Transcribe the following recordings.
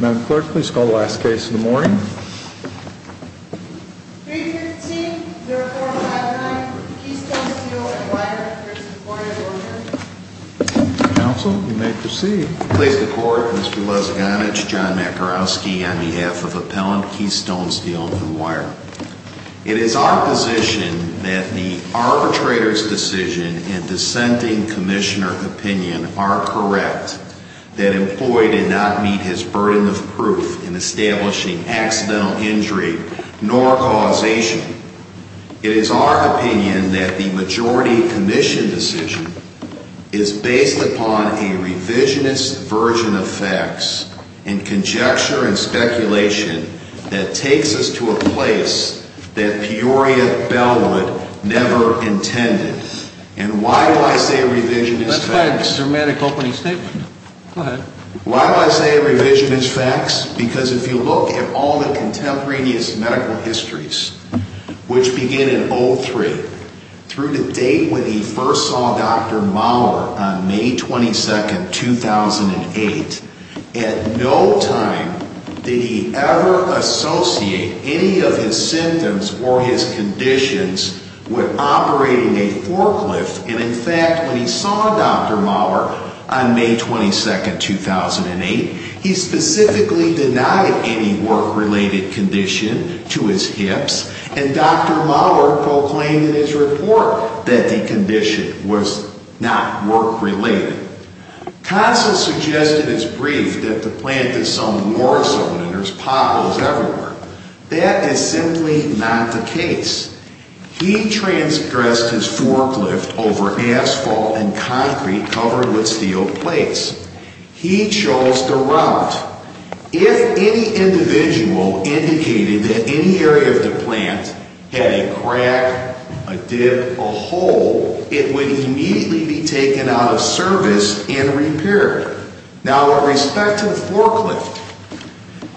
Madam Clerk, please call the last case in the morning. 315-0459, Keystone Steel and Wire. Council, you may proceed. Ladies and court, Mr. Lezgonich, John Makarowski on behalf of Appellant Keystone Steel and Wire. It is our position that the arbitrator's decision and dissenting commissioner opinion are correct, that employee did not meet his burden of proof in establishing accidental injury nor causation. It is our opinion that the majority commission decision is based upon a revisionist version of facts and conjecture and speculation that takes us to a place that Peoria Bellwood never intended. That's quite a dramatic opening statement. Go ahead. Why do I say revisionist facts? Because if you look at all the contemporaneous medical histories, which begin in 03, through the date when he first saw Dr. Mauer on May 22, 2008, at no time did he ever associate any of his symptoms or his conditions with operating a forklift. And in fact, when he saw Dr. Mauer on May 22, 2008, he specifically denied any work-related condition to his hips, and Dr. Mauer proclaimed in his report that the condition was not work-related. Council suggested as brief that the plant is some war zone and there's potholes everywhere. That is simply not the case. He transgressed his forklift over asphalt and concrete covered with steel plates. He chose the route. If any individual indicated that any area of the plant had a crack, a dip, a hole, it would immediately be taken out of service and repaired. Now, with respect to the forklift,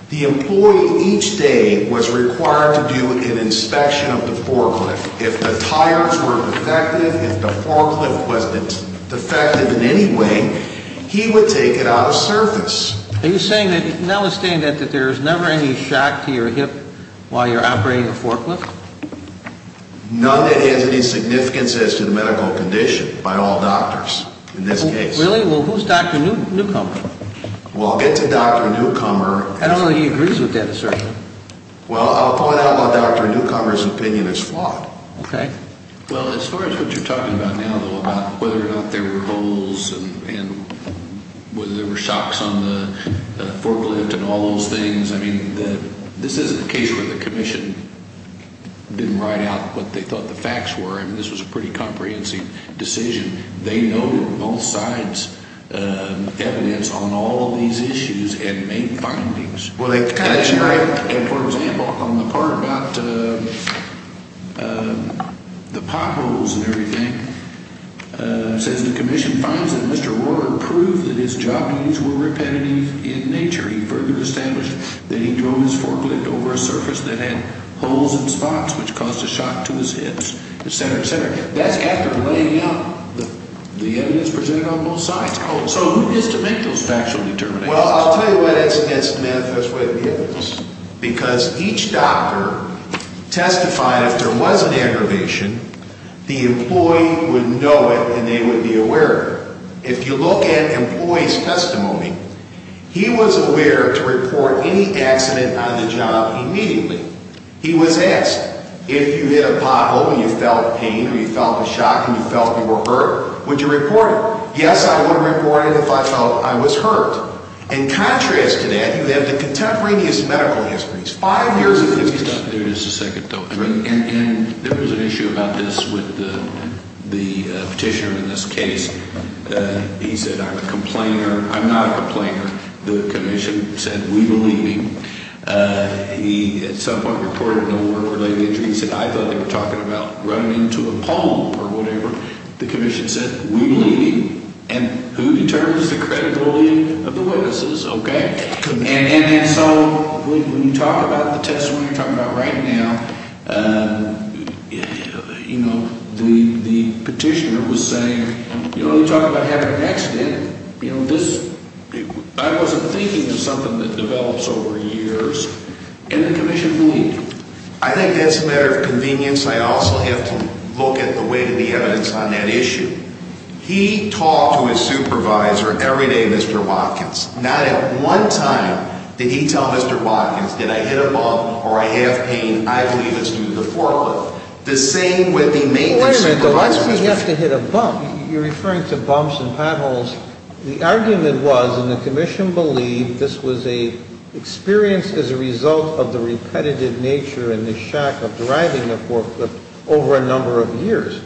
the employee each day was required to do an inspection of the forklift. If the tires were defective, if the forklift wasn't defective in any way, he would take it out of service. Are you saying that there's never any shock to your hip while you're operating a forklift? None that has any significance as to the medical condition by all doctors in this case. Really? Well, who's Dr. Newcomer? Well, I'll get to Dr. Newcomer. I don't know that he agrees with that assertion. Well, I'll find out why Dr. Newcomer's opinion is flawed. Okay. Well, as far as what you're talking about now, though, about whether or not there were holes and whether there were shocks on the forklift and all those things, I mean, this isn't a case where the Commission didn't write out what they thought the facts were. I mean, this was a pretty comprehensive decision. They noted both sides' evidence on all of these issues and made findings. Well, they kind of share it. For example, on the part about the potholes and everything, it says the Commission finds that Mr. Rohrer proved that his job needs were repetitive in nature. He further established that he drove his forklift over a surface that had holes and spots, which caused a shock to his hips, et cetera, et cetera. That's after laying out the evidence presented on both sides. So who is to make those factual determinations? Well, I'll tell you why that's a myth. That's what it is. Because each doctor testified if there was an aggravation, the employee would know it and they would be aware of it. If you look at employee's testimony, he was aware to report any accident on the job immediately. He was asked, if you hit a pothole and you felt pain or you felt a shock and you felt you were hurt, would you report it? Yes, I would report it if I felt I was hurt. In contrast to that, you have the contemporaneous medical histories, five years of history. Let me stop there just a second, though. And there was an issue about this with the petitioner in this case. He said, I'm a complainer. I'm not a complainer. The Commission said we believe him. He at some point reported an order-related injury. He said, I thought they were talking about running into a pole or whatever. The Commission said, we believe you. And who determines the credibility of the witnesses, okay? And so when you talk about the testimony you're talking about right now, you know, the petitioner was saying, you know, you talk about having an accident. I wasn't thinking of something that develops over years. And the Commission believed him. I think that's a matter of convenience. I also have to look at the weight of the evidence on that issue. He talked to his supervisor every day, Mr. Watkins. Not at one time did he tell Mr. Watkins, did I hit a bump or I have pain? I believe it's due to the forklift. The same with the maintenance supervisor. Wait a minute. Why does he have to hit a bump? You're referring to bumps and potholes. The argument was, and the Commission believed, this was an experience as a result of the repetitive nature in the shack of driving the forklift over a number of years.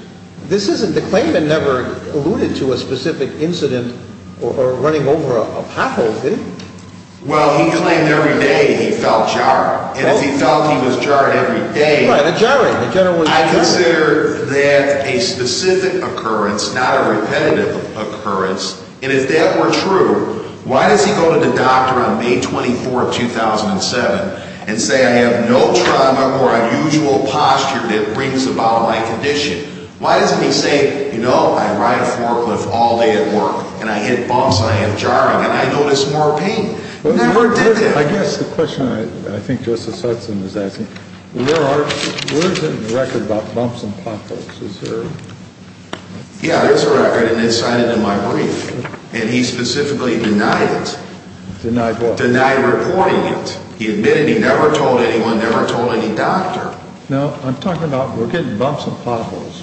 The claimant never alluded to a specific incident or running over a pothole, did he? Well, he claimed every day he felt jarred. And if he felt he was jarred every day, I consider that a specific occurrence. It's not a repetitive occurrence. And if that were true, why does he go to the doctor on May 24, 2007, and say I have no trauma or unusual posture that brings about my condition? Why doesn't he say, you know, I ride a forklift all day at work and I hit bumps and I have jarring and I notice more pain? He never did that. I guess the question I think Justice Hudson is asking, where is it in the record about bumps and potholes? Yeah, there's a record and it's cited in my brief. And he specifically denied it. Denied what? Denied reporting it. He admitted he never told anyone, never told any doctor. No, I'm talking about we're getting bumps and potholes.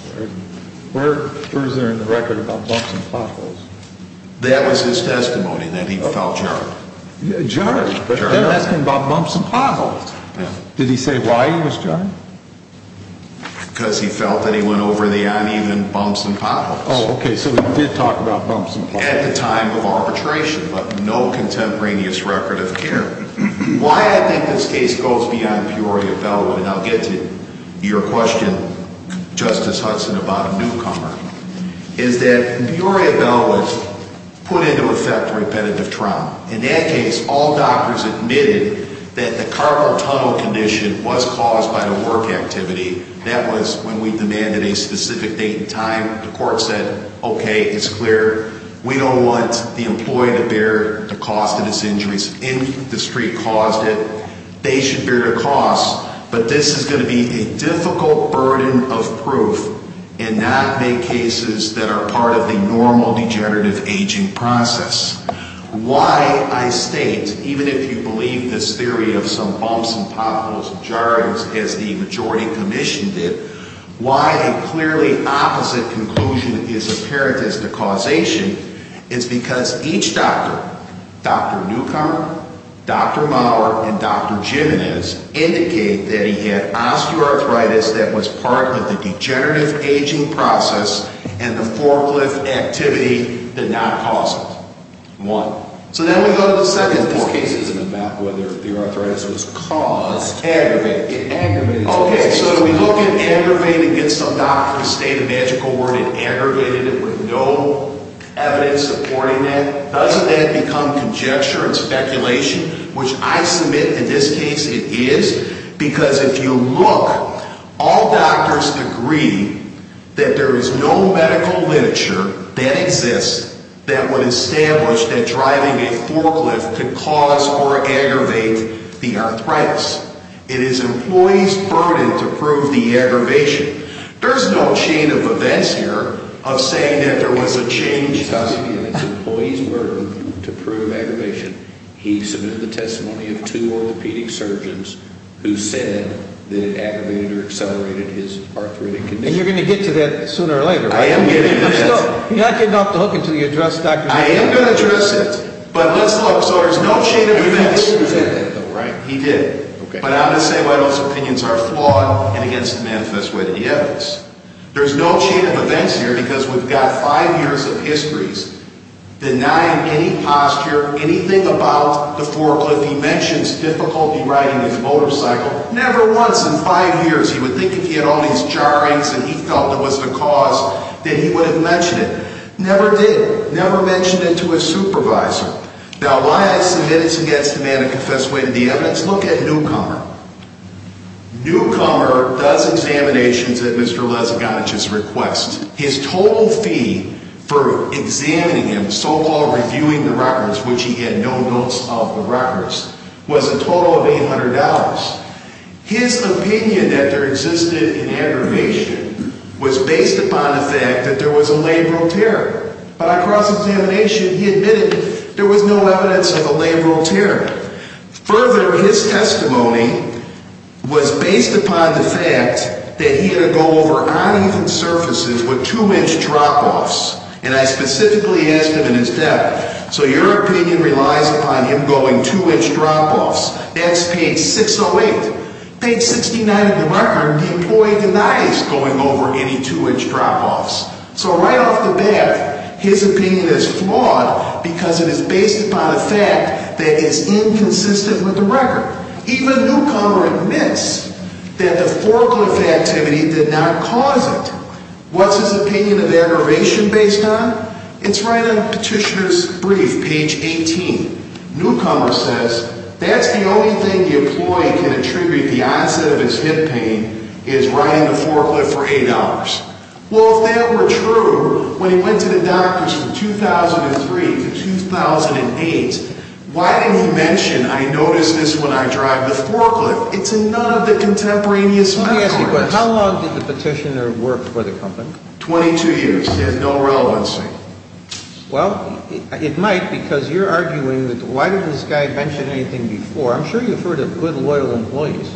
Where is there in the record about bumps and potholes? That was his testimony, that he felt jarred. Jarred? Jarred, yeah. I'm asking about bumps and potholes. Did he say why he was jarred? Because he felt that he went over the uneven bumps and potholes. Oh, okay, so he did talk about bumps and potholes. At the time of arbitration, but no contemporaneous record of care. Why I think this case goes beyond Peoria-Bellwood, and I'll get to your question, Justice Hudson, about a newcomer, is that Peoria-Bellwood put into effect repetitive trauma. In that case, all doctors admitted that the carpal tunnel condition was caused by the work activity. That was when we demanded a specific date and time. The court said, okay, it's clear. We don't want the employee to bear the cost of his injuries. If the street caused it, they should bear the cost. But this is going to be a difficult burden of proof and not make cases that are part of the normal degenerative aging process. Why I state, even if you believe this theory of some bumps and potholes and jarrings, as the majority commission did, why a clearly opposite conclusion is apparent as the causation, is because each doctor, Dr. Newcomer, Dr. Maurer, and Dr. Jimenez, indicate that he had osteoarthritis that was part of the degenerative aging process, and the forklift activity did not cause it. One. So then we go to the second point. This case isn't about whether the arthritis was caused. Aggravated. Aggravated. Okay, so we look at aggravated, get some doctor to state a magical word, and aggravated it with no evidence supporting that. Doesn't that become conjecture and speculation, which I submit in this case it is? Because if you look, all doctors agree that there is no medical literature that exists that would establish that driving a forklift could cause or aggravate the arthritis. It is employees' burden to prove the aggravation. There's no chain of events here of saying that there was a change. It's employees' burden to prove aggravation. He submitted the testimony of two orthopedic surgeons who said that aggravated or accelerated his arthritic condition. And you're going to get to that sooner or later, right? I am getting to that. You're not getting off the hook until you address Dr. Newcomer. I am going to address it. But let's look. So there's no chain of events. He did. But I'm going to say why those opinions are flawed and against the manifest way of the evidence. There's no chain of events here because we've got five years of histories denying any posture, anything about the forklift. He mentions difficulty riding his motorcycle. Never once in five years he would think if he had all these jarrings and he felt it was the cause that he would have mentioned it. Never did. Never mentioned it to his supervisor. Now, why is this against the manifest way of the evidence? Look at Newcomer. Newcomer does examinations at Mr. Lezigonich's request. His total fee for examining him, so-called reviewing the records, which he had no notes of the records, was a total of $800. His opinion that there existed an aggravation was based upon the fact that there was a labral tear. But on cross-examination, he admitted there was no evidence of a labral tear. Further, his testimony was based upon the fact that he had to go over uneven surfaces with two-inch drop-offs. And I specifically asked him in his death, so your opinion relies upon him going two-inch drop-offs? That's page 608. Page 69 of the marker, the employee denies going over any two-inch drop-offs. So right off the bat, his opinion is flawed because it is based upon a fact that is inconsistent with the record. Even Newcomer admits that the forklift activity did not cause it. What's his opinion of aggravation based on? It's right on Petitioner's brief, page 18. Newcomer says that's the only thing the employee can attribute the onset of his hip pain is riding the forklift for eight hours. Well, if that were true, when he went to the doctors from 2003 to 2008, why didn't he mention, I noticed this when I drive the forklift? It's in none of the contemporaneous medical records. Let me ask you a question. How long did the Petitioner work for the company? 22 years. He has no relevancy. Well, it might because you're arguing that why didn't this guy mention anything before? I'm sure you've heard of good, loyal employees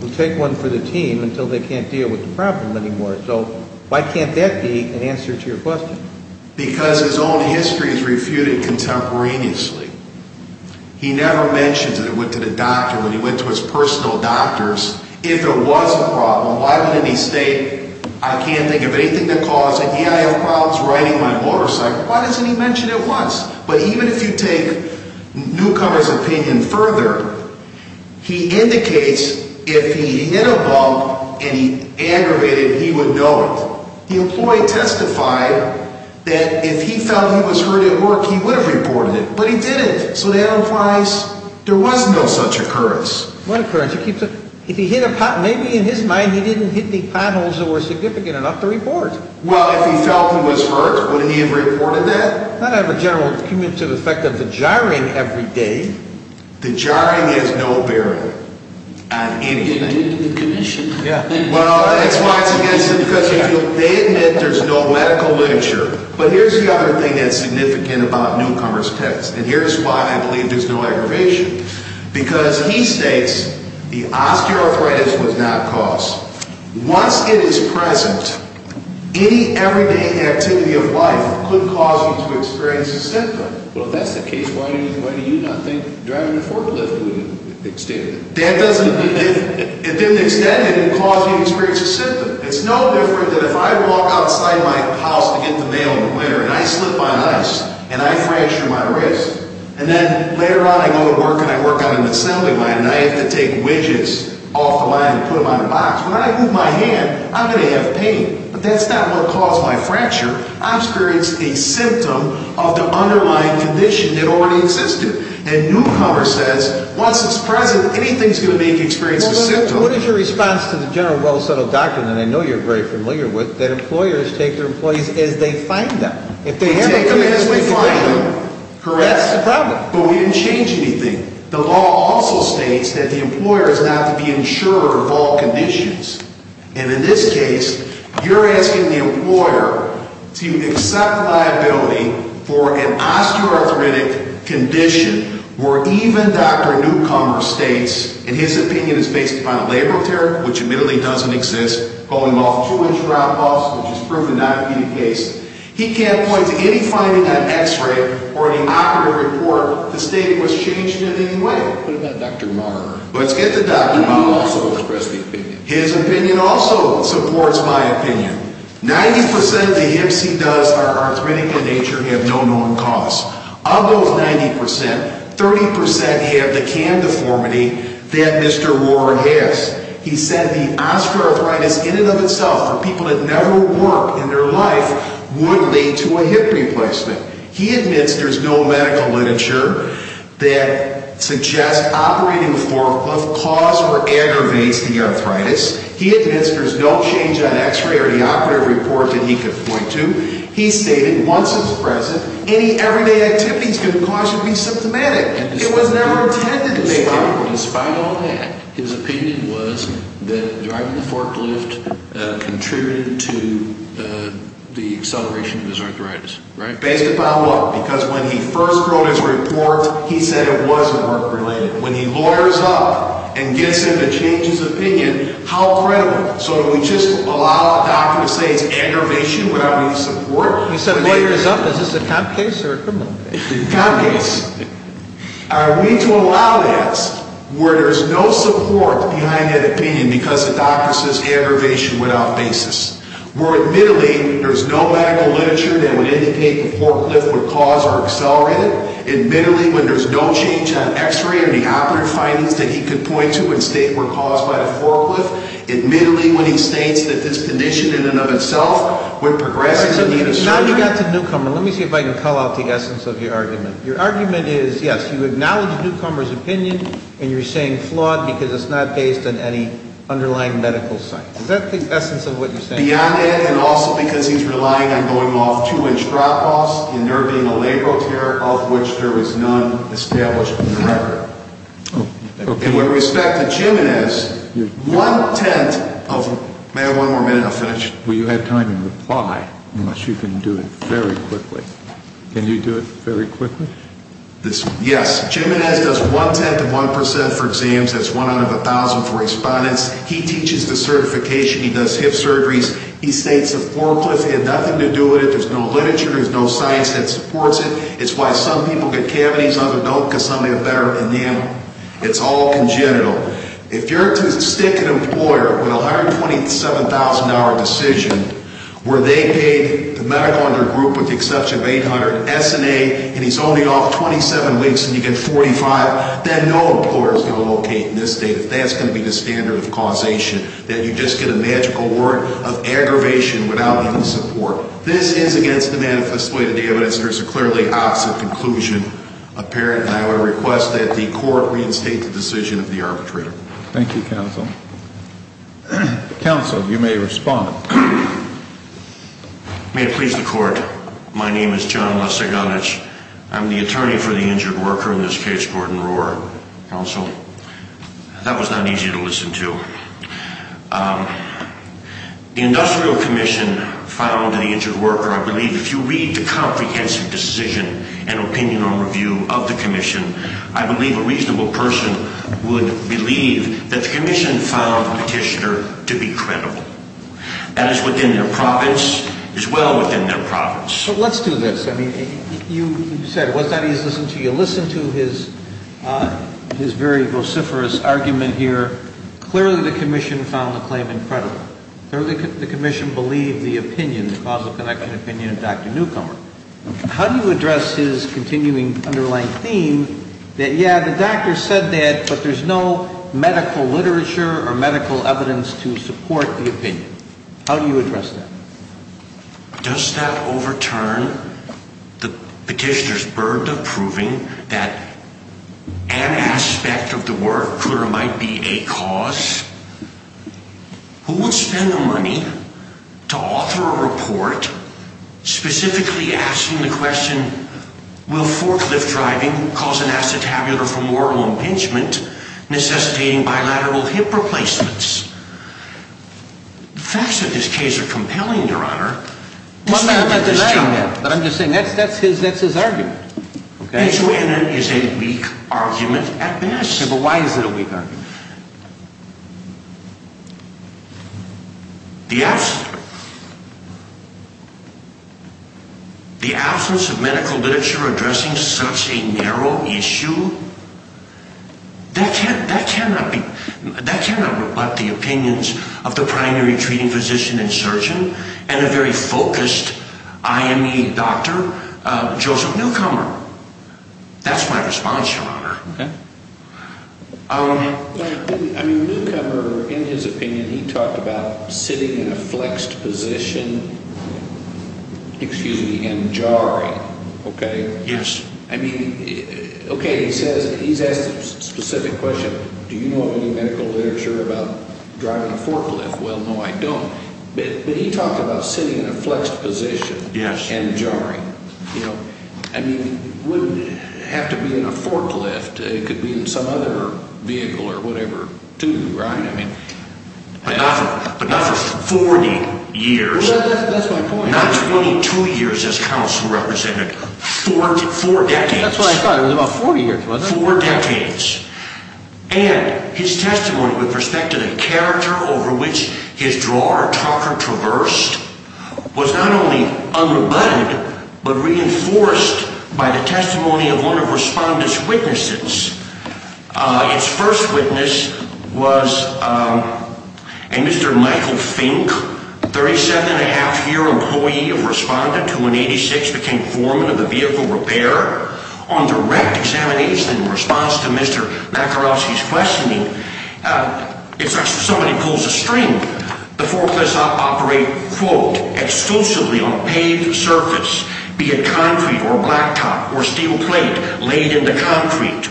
who take one for the team until they can't deal with the problem anymore. So why can't that be an answer to your question? Because his own history is refuted contemporaneously. He never mentions that it went to the doctor when he went to his personal doctors. If there was a problem, why didn't he state, I can't think of anything that caused it. Yeah, I have problems riding my motorcycle. Why doesn't he mention it once? But even if you take newcomer's opinion further, he indicates if he hit a bump and he aggravated, he would know it. The employee testified that if he felt he was hurt at work, he would have reported it. But he didn't. So that implies there was no such occurrence. What occurrence? If he hit a pot, maybe in his mind he didn't hit the potholes that were significant enough to report. Well, if he felt he was hurt, would he have reported that? That would have a general commutative effect of the jarring every day. The jarring is no bearing on anything. He didn't do the commission. Yeah. Well, that's why it's against him because they admit there's no medical literature. But here's the other thing that's significant about newcomer's test, and here's why I believe there's no aggravation. Because he states the osteoarthritis was not caused. Once it is present, any everyday activity of life could cause you to experience a symptom. Well, if that's the case, why do you not think driving a forklift would extend it? It didn't extend it. It didn't cause you to experience a symptom. It's no different than if I walk outside my house to get the mail in the winter and I slip my ice and I fracture my wrist, and then later on I go to work and I work on an assembly line and I have to take widgets off the line and put them on a box. When I move my hand, I'm going to have pain. But that's not what caused my fracture. I experienced a symptom of the underlying condition that already existed. And newcomer says, once it's present, anything's going to make you experience a symptom. Well, what is your response to the general well-settled doctrine that I know you're very familiar with, that employers take their employees as they find them? Take them as we find them. That's the problem. But we didn't change anything. The law also states that the employer is not to be insurer of all conditions. And in this case, you're asking the employer to accept liability for an osteoarthritic condition where even Dr. Newcomer states, and his opinion is based upon a labor of terror, which admittedly doesn't exist, going off two-inch drop-offs, which is proven not to be the case. He can't point to any finding on x-ray or any operative report to state it was changed in any way. What about Dr. Marr? Let's get to Dr. Marr. He also expressed the opinion. His opinion also supports my opinion. Ninety percent of the hips he does are arthritic in nature and have no known cause. Of those 90 percent, 30 percent have the canned deformity that Mr. Ward has. He said the osteoarthritis in and of itself for people that never work in their life would lead to a hip replacement. He admits there's no medical literature that suggests operating with Thoracliff caused or aggravates the arthritis. He admits there's no change on x-ray or any operative report that he could point to. He stated once it was present, any everyday activities could cause you to be symptomatic. It was never intended to make you ill. So in spite of all that, his opinion was that driving the forklift contributed to the acceleration of his arthritis, right? Based upon what? Because when he first wrote his report, he said it wasn't work-related. When he lawyers up and gets him to change his opinion, how credible? So do we just allow a doctor to say it's aggravation without any support? You said lawyers up. Is this a cop case or a criminal case? Cop case. Are we to allow that where there's no support behind that opinion because the doctor says aggravation without basis? Where admittedly there's no medical literature that would indicate the forklift would cause or accelerate it? Admittedly, when there's no change on x-ray or any operative findings that he could point to and state were caused by the forklift? Admittedly, when he states that this condition in and of itself would progress in the... Now that you've got the newcomer, let me see if I can call out the essence of your argument. Your argument is, yes, you acknowledge the newcomer's opinion and you're saying flawed because it's not based on any underlying medical science. Is that the essence of what you're saying? Beyond that and also because he's relying on going off two-inch drop-offs and there being a labral tear of which there is none established in the record. Oh, okay. And with respect to Jimenez, one-tenth of... May I have one more minute? I'll finish. Will you have time to reply unless you can do it very quickly? Okay. Can you do it very quickly? Yes. Jimenez does one-tenth of one percent for exams. That's one out of a thousand for respondents. He teaches the certification. He does hip surgeries. He states the forklift had nothing to do with it. There's no literature. There's no science that supports it. It's why some people get cavities, other don't because some of them have better anatomy. It's all congenital. If you're to stick an employer with a $127,000 decision where they paid the medical under group with the exception of $800 S&A and he's only off 27 weeks and you get $45,000, then no employer is going to locate in this state if that's going to be the standard of causation, that you just get a magical word of aggravation without any support. This is against the manifest way of the evidence. There's a clearly opposite conclusion apparent, and I would request that the court reinstate the decision of the arbitrator. Thank you, counsel. Counsel, you may respond. May it please the court. My name is John Laseganich. I'm the attorney for the injured worker in this case, Gordon Rohrer. Counsel, that was not easy to listen to. The industrial commission found the injured worker, I believe, if you read the comprehensive decision and opinion on review of the commission, I believe a reasonable person would believe that the commission found the petitioner to be credible. That is within their province, as well within their province. Let's do this. You said it was not easy to listen to you. His very vociferous argument here, clearly the commission found the claim incredible. Clearly the commission believed the opinion, the causal connection opinion of Dr. Newcomer. How do you address his continuing underlying theme that, yeah, the doctor said that, but there's no medical literature or medical evidence to support the opinion? How do you address that? Does that overturn the petitioner's burden of proving that an aspect of the work could or might be a cause? Who would spend the money to author a report specifically asking the question, will forklift driving cause an acetabular femoral impingement necessitating bilateral hip replacements? The facts of this case are compelling, your honor. I'm not denying that, but I'm just saying that's his argument. It is a weak argument at best. Why is it a weak argument? The absence of medical literature addressing such a narrow issue, that cannot be. That cannot rebut the opinions of the primary treating physician and surgeon and a very focused IME doctor, Joseph Newcomer. That's my response, your honor. Newcomer, in his opinion, he talked about sitting in a flexed position and jarring. He's asked a specific question. Do you know of any medical literature about driving a forklift? Well, no, I don't. But he talked about sitting in a flexed position and jarring. It wouldn't have to be in a forklift. It could be in some other vehicle or whatever, too, right? But not for 40 years. That's my point. Not 22 years as counsel represented. Four decades. That's what I thought. It was about four years, wasn't it? Four decades. And his testimony with respect to the character over which his drawer or talker traversed was not only unremitted, but reinforced by the testimony of one of the respondent's witnesses. Its first witness was a Mr. Michael Fink, 37-and-a-half-year employee of respondent who in 1986 became foreman of the vehicle repair. On direct examination in response to Mr. Macarossi's questioning, it's like somebody pulls a string. The forklifts operate, quote, exclusively on paved surface, be it concrete or blacktop or steel plate laid into concrete.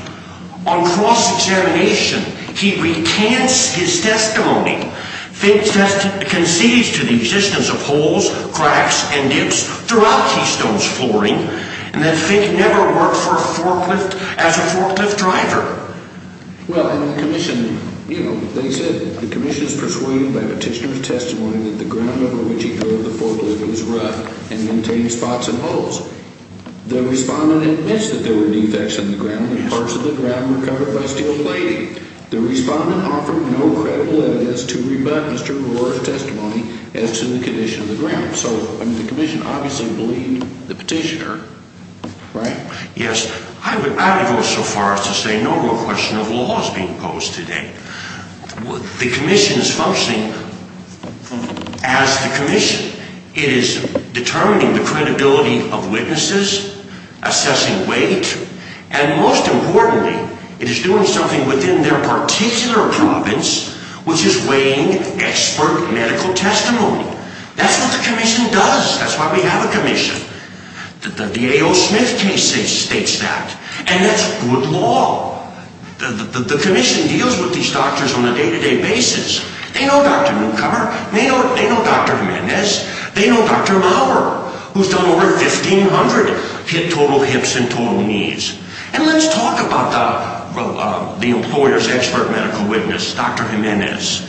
On cross-examination, he recants his testimony. Fink concedes to the existence of holes, cracks, and dips throughout Keystone's flooring and that Fink never worked for a forklift as a forklift driver. Well, in the commission, you know, they said the commission is persuaded by petitioner's testimony that the ground over which he drove the forklift was rough and contained spots and holes. The respondent admits that there were defects in the ground and parts of the ground were covered by steel plating. The respondent offered no credible evidence to rebut Mr. Macarossi's testimony as to the condition of the ground. So, I mean, the commission obviously believed the petitioner, right? Yes, I would go so far as to say no more question of laws being imposed today. The commission is functioning as the commission. It is determining the credibility of witnesses, assessing weight, and most importantly, it is doing something within their particular province, which is weighing expert medical testimony. That's what the commission does. That's why we have a commission. The A.O. Smith case states that. And that's good law. The commission deals with these doctors on a day-to-day basis. They know Dr. Newcomer. They know Dr. Jimenez. They know Dr. Maurer, who's done over 1,500 total hips and total knees. And let's talk about the employer's expert medical witness, Dr. Jimenez.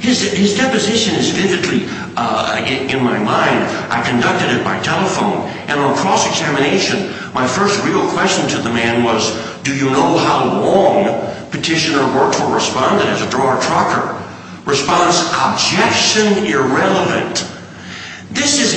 His deposition is vividly in my mind. I conducted it by telephone. And on cross-examination, my first real question to the man was, do you know how long petitioner worked for respondent as a drawer trucker? Response, objection irrelevant. This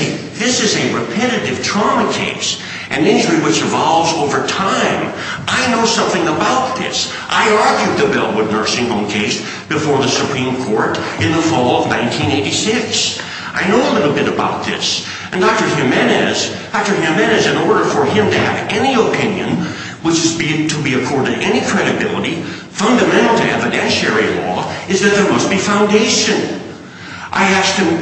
is a repetitive trauma case, an injury which evolves over time. I know something about this. I argued the Bellwood nursing home case before the Supreme Court in the fall of 1986. I know a little bit about this. And Dr. Jimenez, in order for him to have any opinion, which is to be accorded any credibility, fundamental to evidentiary law, is that there must be foundation. I asked him.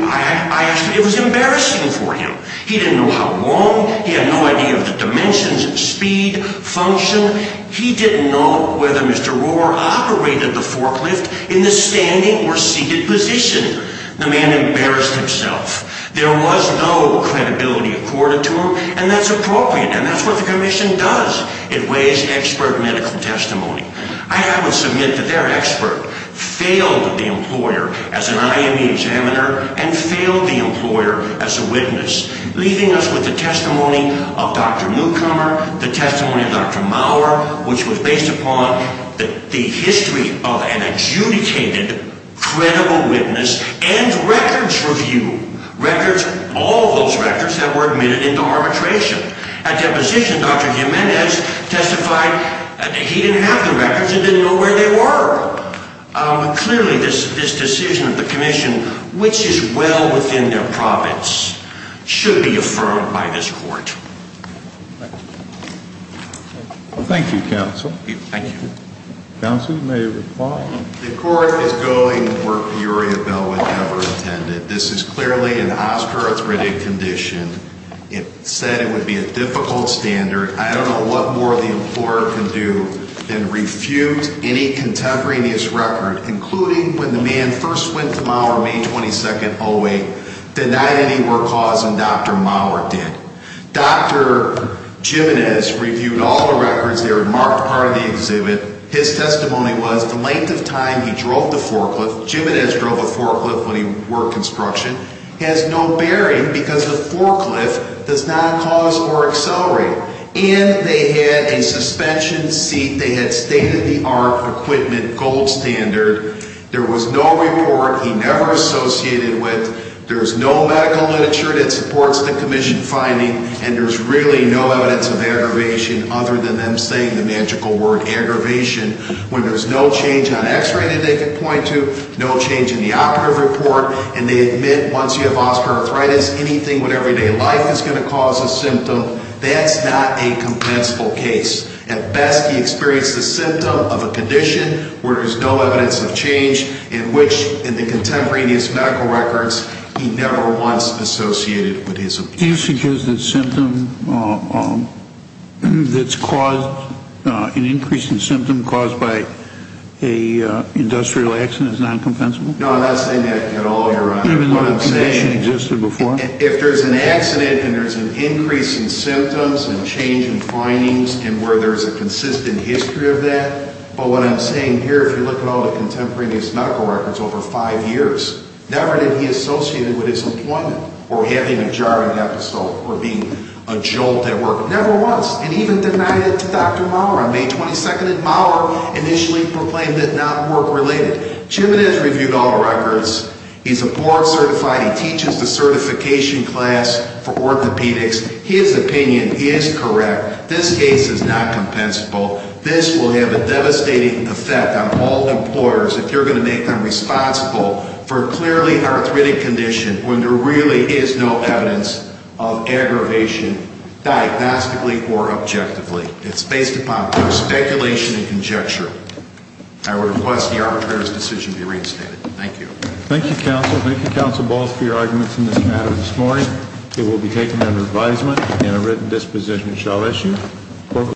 It was embarrassing for him. He didn't know how long. He had no idea of the dimensions, speed, function. He didn't know whether Mr. Rohr operated the forklift in the standing or seated position. The man embarrassed himself. There was no credibility accorded to him. And that's appropriate. And that's what the commission does. It weighs expert medical testimony. I would submit that their expert failed the employer as an IME examiner and failed the employer as a witness, leaving us with the testimony of Dr. Newcomer, the testimony of Dr. Maurer, which was based upon the history of an adjudicated, credible witness and records review. Records, all those records that were admitted into arbitration. At deposition, Dr. Jimenez testified that he didn't have the records and didn't know where they were. Clearly, this decision of the commission, which is well within their profits, should be affirmed by this court. Thank you. Thank you, counsel. Thank you. Counsel, you may reply. The court is going where Uriah Bell would never have intended. This is clearly an osteoarthritic condition. It said it would be a difficult standard. I don't know what more the employer can do than refute any contemporaneous record, including when the man first went to Maurer May 22nd, 08, denied any more cause than Dr. Maurer did. Dr. Jimenez reviewed all the records that were marked part of the exhibit. His testimony was the length of time he drove the forklift, Jimenez drove a forklift when he worked construction, has no bearing because the forklift does not cause or accelerate. And they had a suspension seat. They had state-of-the-art equipment, gold standard. There was no report he never associated with. There's no medical literature that supports the commission finding, and there's really no evidence of aggravation other than them saying the magical word aggravation. When there's no change on x-ray that they can point to, no change in the operative report, and they admit once you have osteoarthritis, anything with everyday life is going to cause a symptom, that's not a compensable case. At best, he experienced a symptom of a condition where there's no evidence of change in which, in the contemporaneous medical records, he never once associated with his operative. Do you suggest that symptom that's caused, an increase in symptom caused by an industrial accident is not compensable? No, I'm not saying that at all, Your Honor. Even though the condition existed before? If there's an accident and there's an increase in symptoms and change in findings and where there's a consistent history of that, but what I'm saying here, if you look at all the contemporaneous medical records over five years, never did he associate it with his employment or having a jarring episode or being a jolt at work. Never once. And he even denied it to Dr. Maurer on May 22nd, and Maurer initially proclaimed it not work-related. Jim has reviewed all records. He's a board certified. He teaches the certification class for orthopedics. His opinion is correct. This case is not compensable. This will have a devastating effect on all employers if you're going to make them responsible for a clearly arthritic condition when there really is no evidence of aggravation, diagnostically or objectively. It's based upon pure speculation and conjecture. I request the arbitrator's decision be reinstated. Thank you. Thank you, Counsel. Thank you, Counsel Balls, for your arguments in this matter this morning. It will be taken under advisement and a written disposition shall issue.